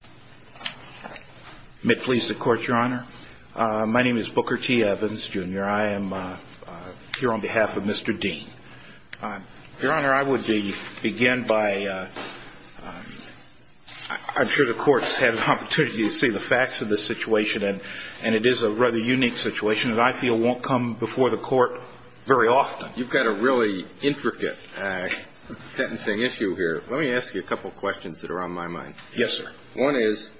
I am here on behalf of Mr. Dinh. Your Honor, I would begin by, I'm sure the court's had an opportunity to see the facts of this situation, and it is a rather unique situation that I feel won't come before the court very often. You've got a really intricate sentencing issue here. Let me ask you a couple of questions that are on my mind. Yes, sir. One is,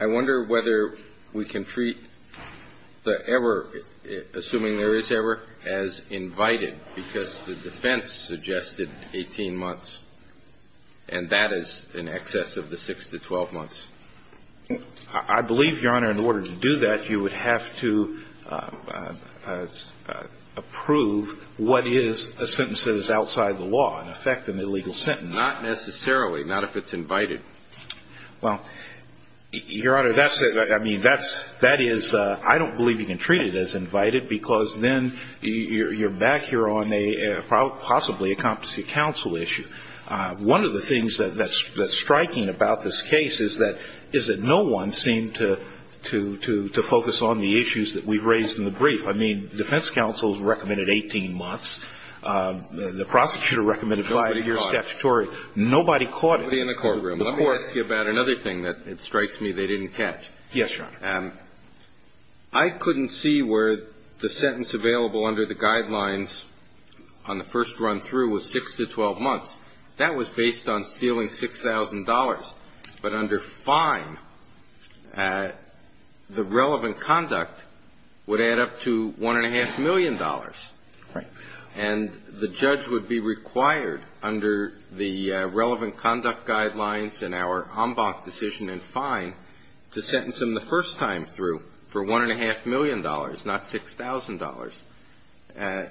I wonder whether we can treat the error, assuming there is error, as invited, because the defense suggested 18 months, and that is in excess of the 6 to 12 months. I believe, Your Honor, in order to do that, you would have to approve what is a sentence that is outside the law, in effect, an illegal sentence. Not necessarily, not if it's invited. Well, Your Honor, that's a, I mean, that's, that is, I don't believe you can treat it as invited, because then you're back here on a, possibly a competency counsel issue. One of the things that's striking about this case is that, is that no one seemed to, to, to, to focus on the issues that we've raised in the brief. I mean, defense counsels recommended 18 months, the prosecutor recommended 5-year statutory. Nobody caught it. Nobody in the courtroom. Let me ask you about another thing that strikes me they didn't catch. Yes, Your Honor. I couldn't see where the sentence available under the guidelines on the first run through was 6 to 12 months. That was based on stealing $6,000, but under fine, the relevant conduct would add up to $1.5 million. Right. And the judge would be required, under the relevant conduct guidelines and our en banc decision and fine, to sentence him the first time through for $1.5 million, not $6,000.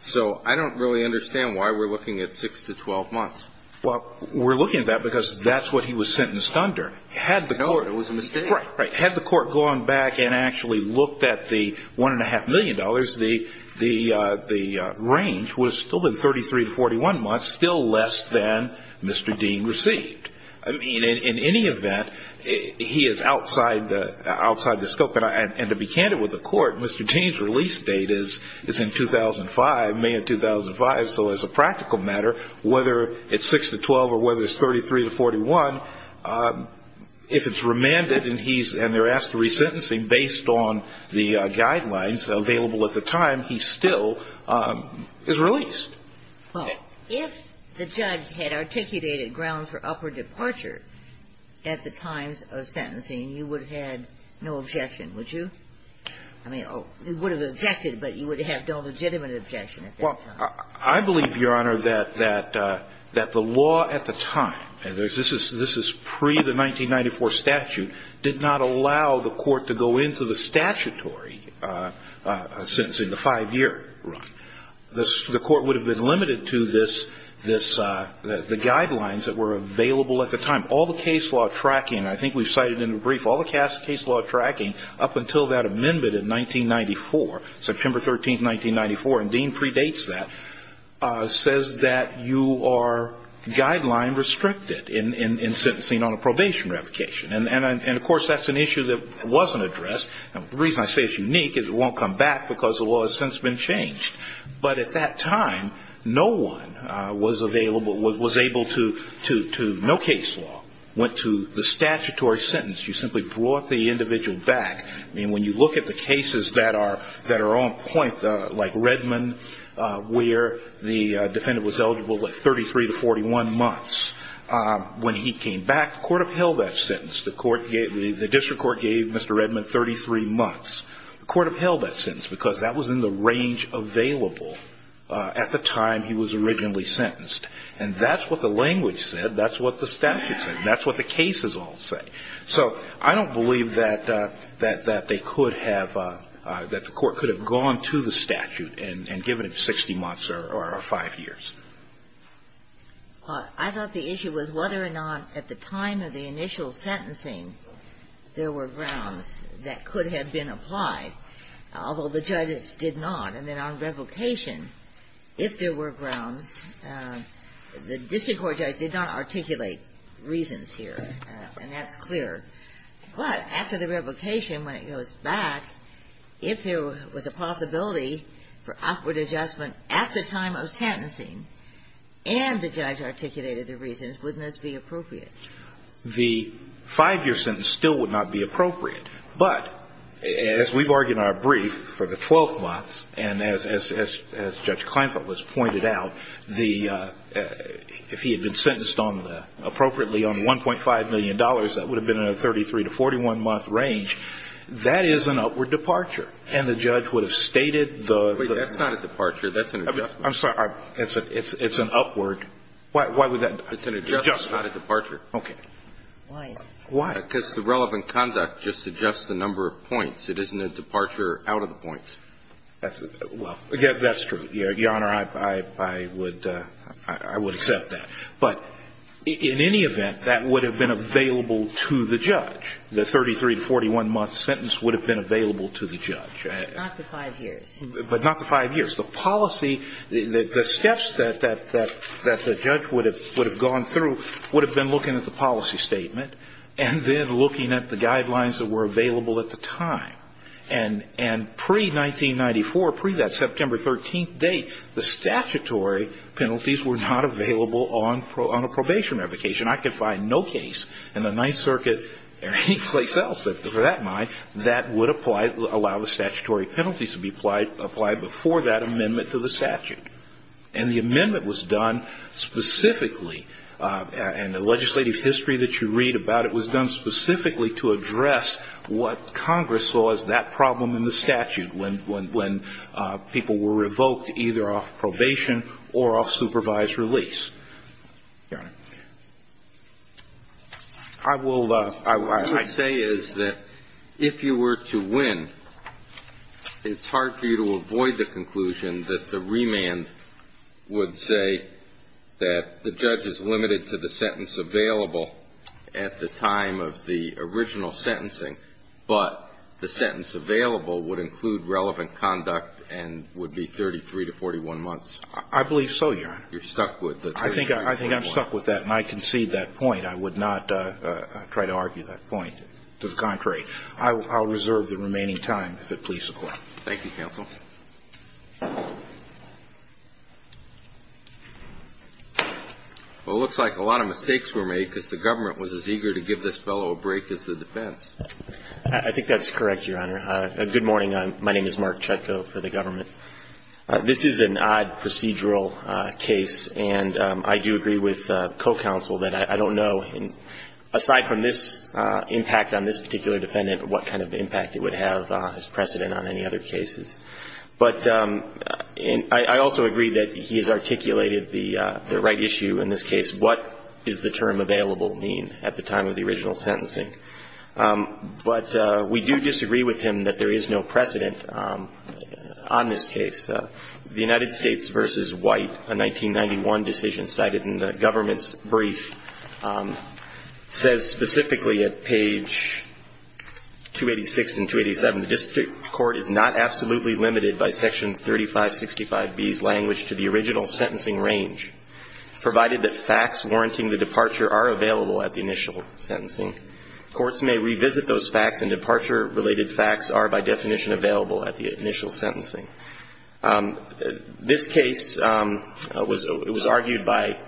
So I don't really understand why we're looking at 6 to 12 months. Well, we're looking at that because that's what he was sentenced under. Had the court. No, it was a mistake. Right, right. Under the $1.5 million, the range would have still been 33 to 41 months, still less than Mr. Dean received. I mean, in any event, he is outside the scope. And to be candid with the court, Mr. Dean's release date is in 2005, May of 2005. So as a practical matter, whether it's 6 to 12 or whether it's 33 to 41, if it's remanded and they're asked to re-sentencing, based on the guidelines available at the time, he still is released. Well, if the judge had articulated grounds for upward departure at the times of sentencing, you would have had no objection, would you? I mean, you would have objected, but you would have no legitimate objection at that time. I believe, Your Honor, that the law at the time, and this is pre the 1994 statute, did not allow the court to go into the statutory sentencing, the five-year run. The court would have been limited to the guidelines that were available at the time. All the case law tracking, I think we've cited in the brief, all the case law tracking up until that amendment in 1994, September 13, 1994, and Dean predates that, says that you are guideline restricted in sentencing on a probation revocation. And of course, that's an issue that wasn't addressed, and the reason I say it's unique is it won't come back because the law has since been changed. But at that time, no one was available, was able to, no case law, went to the statutory sentence. You simply brought the individual back. I mean, when you look at the cases that are on point, like Redmond, where the defendant was eligible at 33 to 41 months, when he came back, the court upheld that sentence. The district court gave Mr. Redmond 33 months. The court upheld that sentence because that was in the range available at the time he was originally sentenced. And that's what the language said, that's what the statute said, that's what the cases all say. So, I don't believe that they could have, that the court could have gone to the statute and given him 60 months or five years. I thought the issue was whether or not at the time of the initial sentencing, there were grounds that could have been applied, although the judges did not. And then on revocation, if there were grounds, the district court judge did not articulate reasons here, and that's clear. But after the revocation, when it goes back, if there was a possibility for upward adjustment at the time of sentencing, and the judge articulated the reasons, wouldn't this be appropriate? The five-year sentence still would not be appropriate. But, as we've argued in our brief for the 12 months, and as Judge Kleinfeld has pointed out, the, if he had been sentenced on, appropriately on $1.5 million, that would have been in a 33 to 41-month range, that is an upward departure. And the judge would have stated the- Wait, that's not a departure, that's an adjustment. I'm sorry, it's an upward, why would that- It's an adjustment, not a departure. Okay. Why is that? Why? Because the relevant conduct just suggests the number of points. It isn't a departure out of the points. Well, that's true, Your Honor, I would, I would accept that. But in any event, that would have been available to the judge. The 33 to 41-month sentence would have been available to the judge. Not the five years. But not the five years. The policy, the steps that the judge would have gone through would have been looking at the policy statement and then looking at the guidelines that were available at the time. And, and pre-1994, pre-that September 13th date, the statutory penalties were not available on a probation revocation. I could find no case in the Ninth Circuit or any place else that, for that matter, that would apply, allow the statutory penalties to be applied before that amendment to the statute. And the amendment was done specifically, and the legislative history that you read about it was done specifically to address what Congress saw as that problem in the statute when, when, when people were revoked either off probation or off supervised release. Your Honor, I will, I will, I say is that if you were to win, it's hard for you to avoid the conclusion that the remand would say that the judge is limited to the sentence available at the time of the original sentencing, but the sentence available would include relevant conduct and would be 33 to 41 months. I believe so, Your Honor. You're stuck with the 33 to 41 months. I think, I think I'm stuck with that, and I concede that point. I would not try to argue that point. To the contrary. I will, I will reserve the remaining time if it pleases the Court. Thank you, counsel. Well, it looks like a lot of mistakes were made because the government was as eager to give this fellow a break as the defense. I think that's correct, Your Honor. Good morning. My name is Mark Chutko for the government. This is an odd procedural case, and I do agree with co-counsel that I don't know, aside from this impact on this particular defendant, what kind of impact it would have as precedent on any other cases. But I also agree that he has articulated the right issue in this case. What does the term available mean at the time of the original sentencing? But we do disagree with him that there is no precedent on this case. The United States v. White, a 1991 decision cited in the government's brief, says specifically at page 286 and 287, the district court is not absolutely limited by Section 3565B's language to the original sentencing range, provided that facts warranting the departure are available at the initial sentencing. Courts may revisit those facts, and departure-related facts are by definition available at the initial sentencing. This case was argued by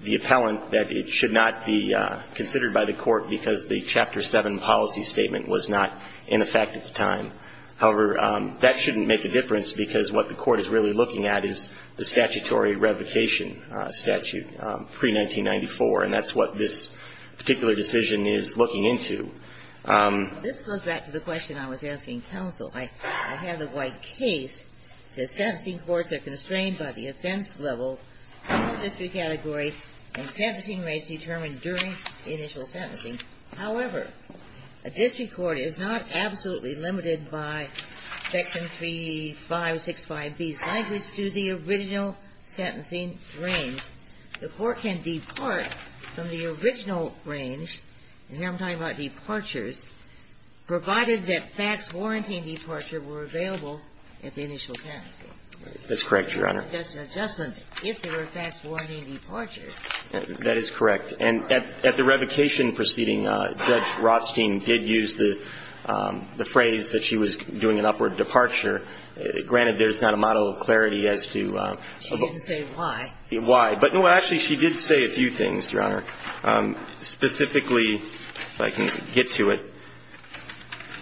the appellant that it should not be considered by the court because the Chapter 7 policy statement was not in effect at the time of the original sentencing. However, that shouldn't make a difference because what the court is really looking at is the statutory revocation statute, pre-1994. And that's what this particular decision is looking into. This goes back to the question I was asking counsel. I have the White case. It says sentencing courts are constrained by the offense level of the district category and sentencing rates determined during the initial sentencing. However, a district court is not absolutely limited by Section 3565B's language to the original sentencing range. The court can depart from the original range, and here I'm talking about departures, provided that facts warranting departure were available at the initial sentencing. That's correct, Your Honor. That's an adjustment. If there were facts warranting departure. That is correct. And at the revocation proceeding, Judge Rothstein did use the phrase that she was doing an upward departure. Granted, there's not a model of clarity as to why, but, no, actually, she did say a few things, Your Honor. Specifically, if I can get to it,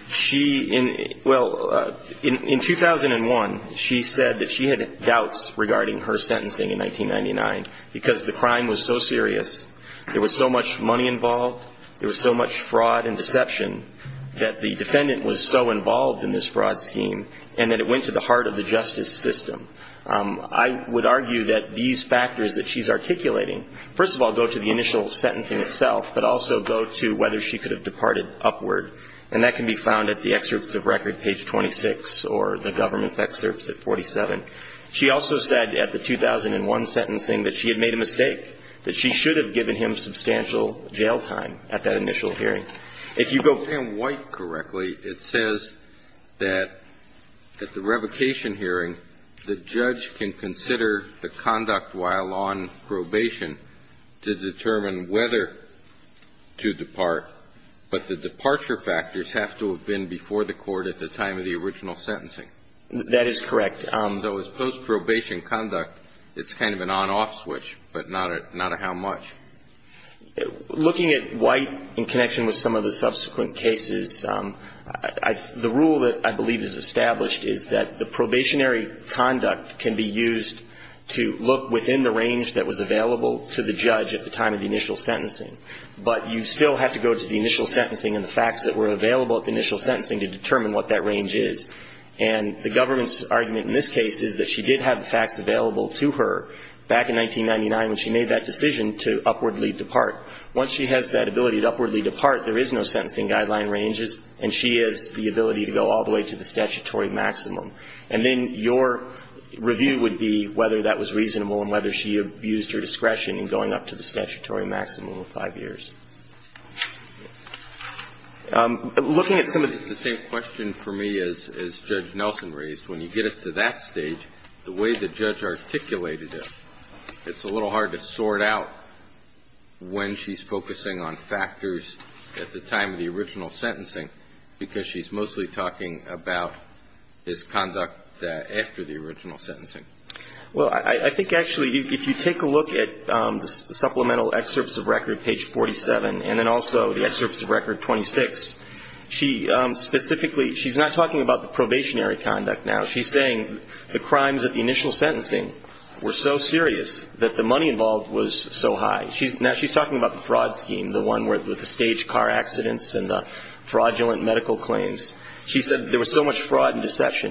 she – well, in 2001, she said that she had doubts regarding her sentencing in 1999 because the crime was so serious. There was so much money involved. There was so much fraud and deception that the defendant was so involved in this fraud scheme and that it went to the heart of the justice system. I would argue that these factors that she's articulating, first of all, go to the initial sentencing itself, but also go to whether she could have departed upward. And that can be found at the excerpts of record, page 26, or the government's excerpts at 47. She also said at the 2001 sentencing that she had made a mistake, that she should have given him substantial jail time at that initial hearing. If you go – If I understand White correctly, it says that at the revocation hearing, the judge can consider the conduct while on probation to determine whether to depart. But the departure factors have to have been before the court at the time of the original sentencing. That is correct. Though, as post-probation conduct, it's kind of an on-off switch, but not a how much. Looking at White in connection with some of the subsequent cases, the rule that I believe is established is that the probationary conduct can be used to look within the range that was available to the judge at the time of the initial sentencing. But you still have to go to the initial sentencing and the facts that were available at the initial sentencing to determine what that range is. And the government's argument in this case is that she did have the facts available to her back in 1999 when she made that decision to upwardly depart. Once she has that ability to upwardly depart, there is no sentencing guideline ranges, and she has the ability to go all the way to the statutory maximum. And then your review would be whether that was reasonable and whether she abused her discretion in going up to the statutory maximum of 5 years. Looking at some of the other cases, the same question for me as Judge Nelson raised, when you get it to that stage, the way the judge articulated it, it's a little hard to sort out when she's focusing on factors at the time of the original sentencing, because she's mostly talking about his conduct after the original sentencing. Well, I think, actually, if you take a look at the supplemental excerpts of record, page 47, and then also the excerpts of record 26, she specifically, she's not talking about the probationary conduct now. She's saying the crimes at the initial sentencing were so serious that the money involved was so high. Now, she's talking about the fraud scheme, the one with the staged car accidents and the fraudulent medical claims. And,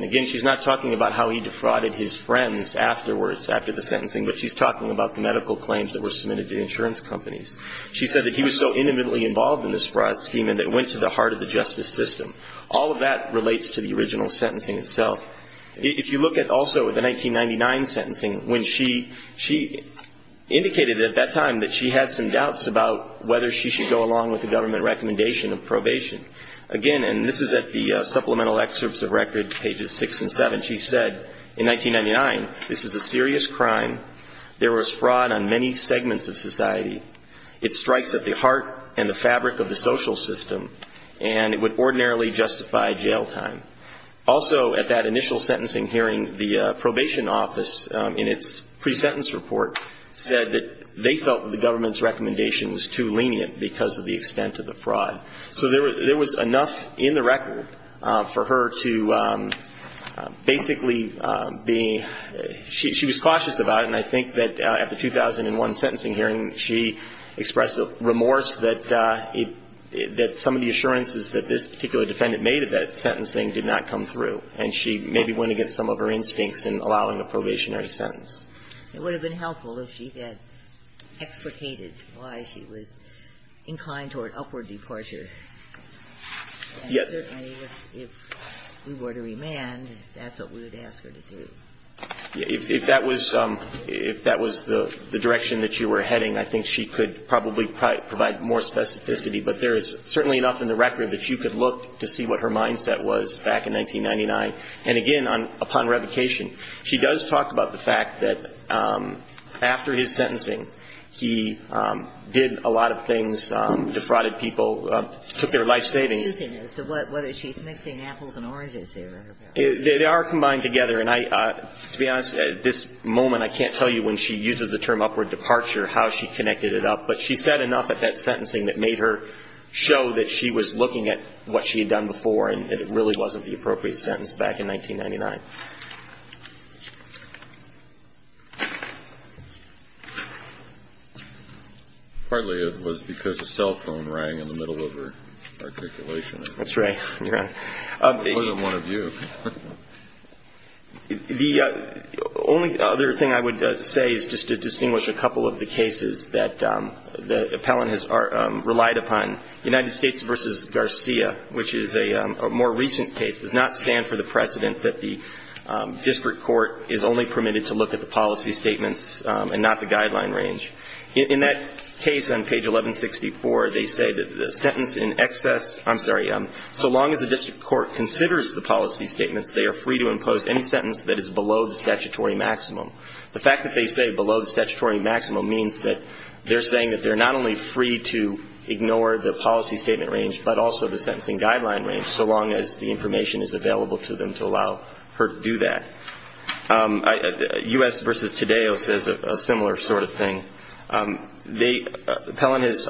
again, she's not talking about how he defrauded his friends afterwards, after the sentencing, but she's talking about the medical claims that were submitted to insurance companies. She said that he was so intimately involved in this fraud scheme and that it went to the heart of the justice system. All of that relates to the original sentencing itself. If you look at also the 1999 sentencing, when she indicated at that time that she had some doubts about whether she should go along with the government recommendation of probation. Again, and this is at the supplemental excerpts of record, pages 6 and 7, she said, in 1999, this is a serious crime. There was fraud on many segments of society. It strikes at the heart and the fabric of the social system, and it would ordinarily justify jail time. Also, at that initial sentencing hearing, the probation office, in its pre-sentence report, said that they felt that the government's recommendation was too lenient because of the extent of the fraud. So there was enough in the record for her to basically be – she was cautious about it, and I think that at the 2001 sentencing hearing, she expressed remorse that some of the assurances that this particular defendant made at that sentencing did not come through. And she maybe went against some of her instincts in allowing a probationary sentence. It would have been helpful if she had explicated why she was inclined toward upward departure. And certainly, if we were to remand, that's what we would ask her to do. If that was the direction that you were heading, I think she could probably provide more specificity, but there is certainly enough in the record that you could look to see what her mindset was back in 1999. And again, upon revocation, she does talk about the fact that after his sentencing, he did a lot of things, defrauded people, took their life savings. So whether she's mixing apples and oranges there. They are combined together. And I – to be honest, at this moment, I can't tell you when she uses the term upward departure how she connected it up. But she said enough at that sentencing that made her show that she was looking at what she had done before, and it really wasn't the appropriate sentence back in 1999. Partly it was because the cell phone rang in the middle of her articulation. That's right. It wasn't one of you. The only other thing I would say is just to distinguish a couple of the cases that the appellant has relied upon. United States v. Garcia, which is a more recent case, does not stand for the precedent that the district court is only permitted to look at the policy statements and not the guideline range. In that case on page 1164, they say that the sentence in excess – I'm sorry. So long as the district court considers the policy statements, they are free to impose any sentence that is below the statutory maximum. The fact that they say below the statutory maximum means that they're saying that they're not only free to ignore the policy statement range but also the sentencing guideline range so long as the information is available to them to allow her to do that. U.S. v. Tadeo says a similar sort of thing. The appellant has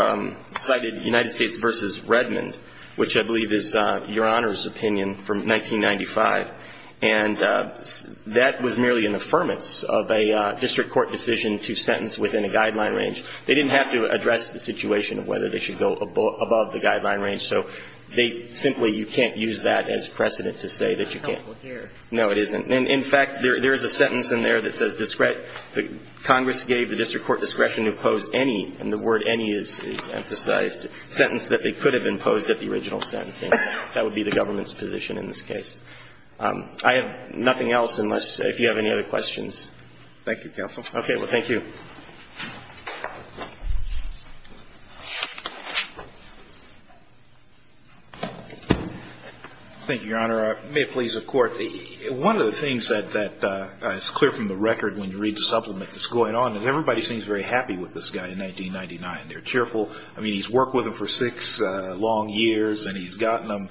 cited United States v. Redmond, which I believe is Your Honor's opinion from 1995. And that was merely an affirmance of a district court decision to sentence within a guideline range. They didn't have to address the situation of whether they should go above the guideline range. So they simply – you can't use that as precedent to say that you can't. It's not helpful here. No, it isn't. And, in fact, there is a sentence in there that says Congress gave the district court discretion to impose any – and the word any is emphasized – sentence that they could have imposed at the original sentencing. That would be the government's position in this case. I have nothing else unless – if you have any other questions. Thank you, Counsel. Well, thank you. Thank you, Your Honor. May it please the Court. One of the things that is clear from the record when you read the supplement that's going on is everybody seems very happy with this guy in 1999. They're cheerful. I mean, he's worked with them for six long years, and he's gotten them.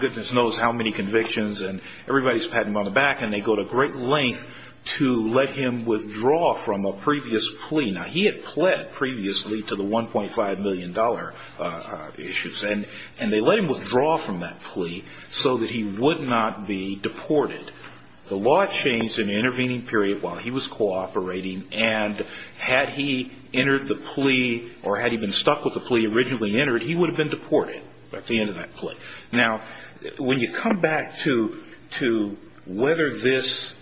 Goodness knows how many convictions. And everybody's patting him on the back, and they go to great lengths to let him withdraw from a previous plea. Now, he had pled previously to the $1.5 million issues. And they let him withdraw from that plea so that he would not be deported. The law changed in the intervening period while he was cooperating, and had he entered the plea or had he been stuck with the plea originally entered, he would have been deported at the end of that plea. Now, when you come back to whether this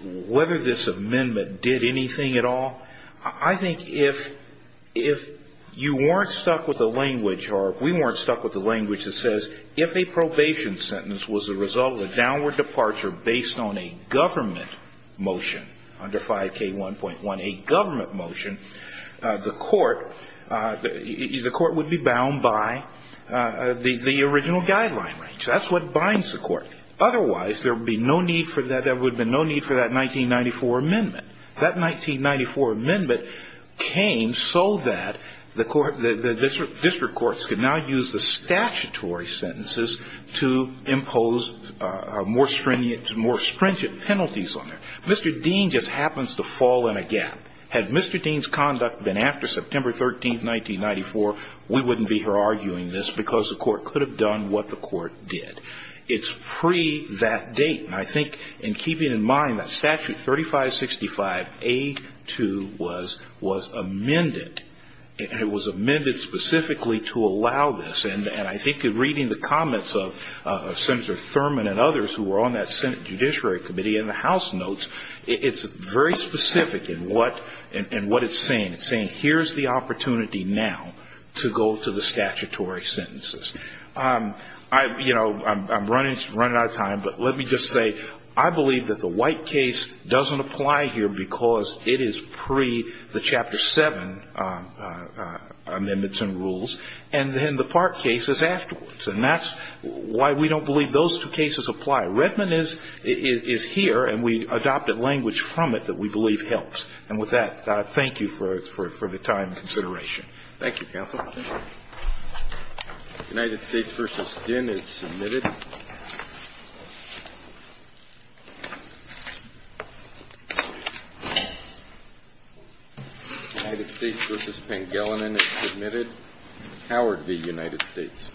amendment did anything at all, I think if you weren't stuck with the language, or if we weren't stuck with the language that says if a probation sentence was the result of a downward departure based on a government motion under 5K1.1, a government motion, the court would be bound by the original guideline. That's what binds the court. Otherwise, there would be no need for that 1994 amendment. That 1994 amendment came so that the court, the district courts could now use the statutory sentences to impose more stringent penalties on them. Mr. Dean just happens to fall in a gap. Had Mr. Dean's conduct been after September 13, 1994, we wouldn't be here arguing this because the court could have done what the court did. It's pre that date. And I think in keeping in mind that Statute 3565A2 was amended, and it was amended specifically to allow this. And I think in reading the comments of Senator Thurman and others who were on that Senate Judiciary Committee in the House notes, it's very specific in what it's saying. It's saying here's the opportunity now to go to the statutory sentences. You know, I'm running out of time, but let me just say I believe that the White case doesn't apply here because it is pre the Chapter 7 amendments and rules, and then the Park case is afterwards. And that's why we don't believe those two cases apply. Redmond is here, and we adopted language from it that we believe helps. And with that, thank you for the time and consideration. Thank you, counsel. United States v. Ginn is submitted. United States v. Pangelanen is submitted. Howard v. United States. Thank you.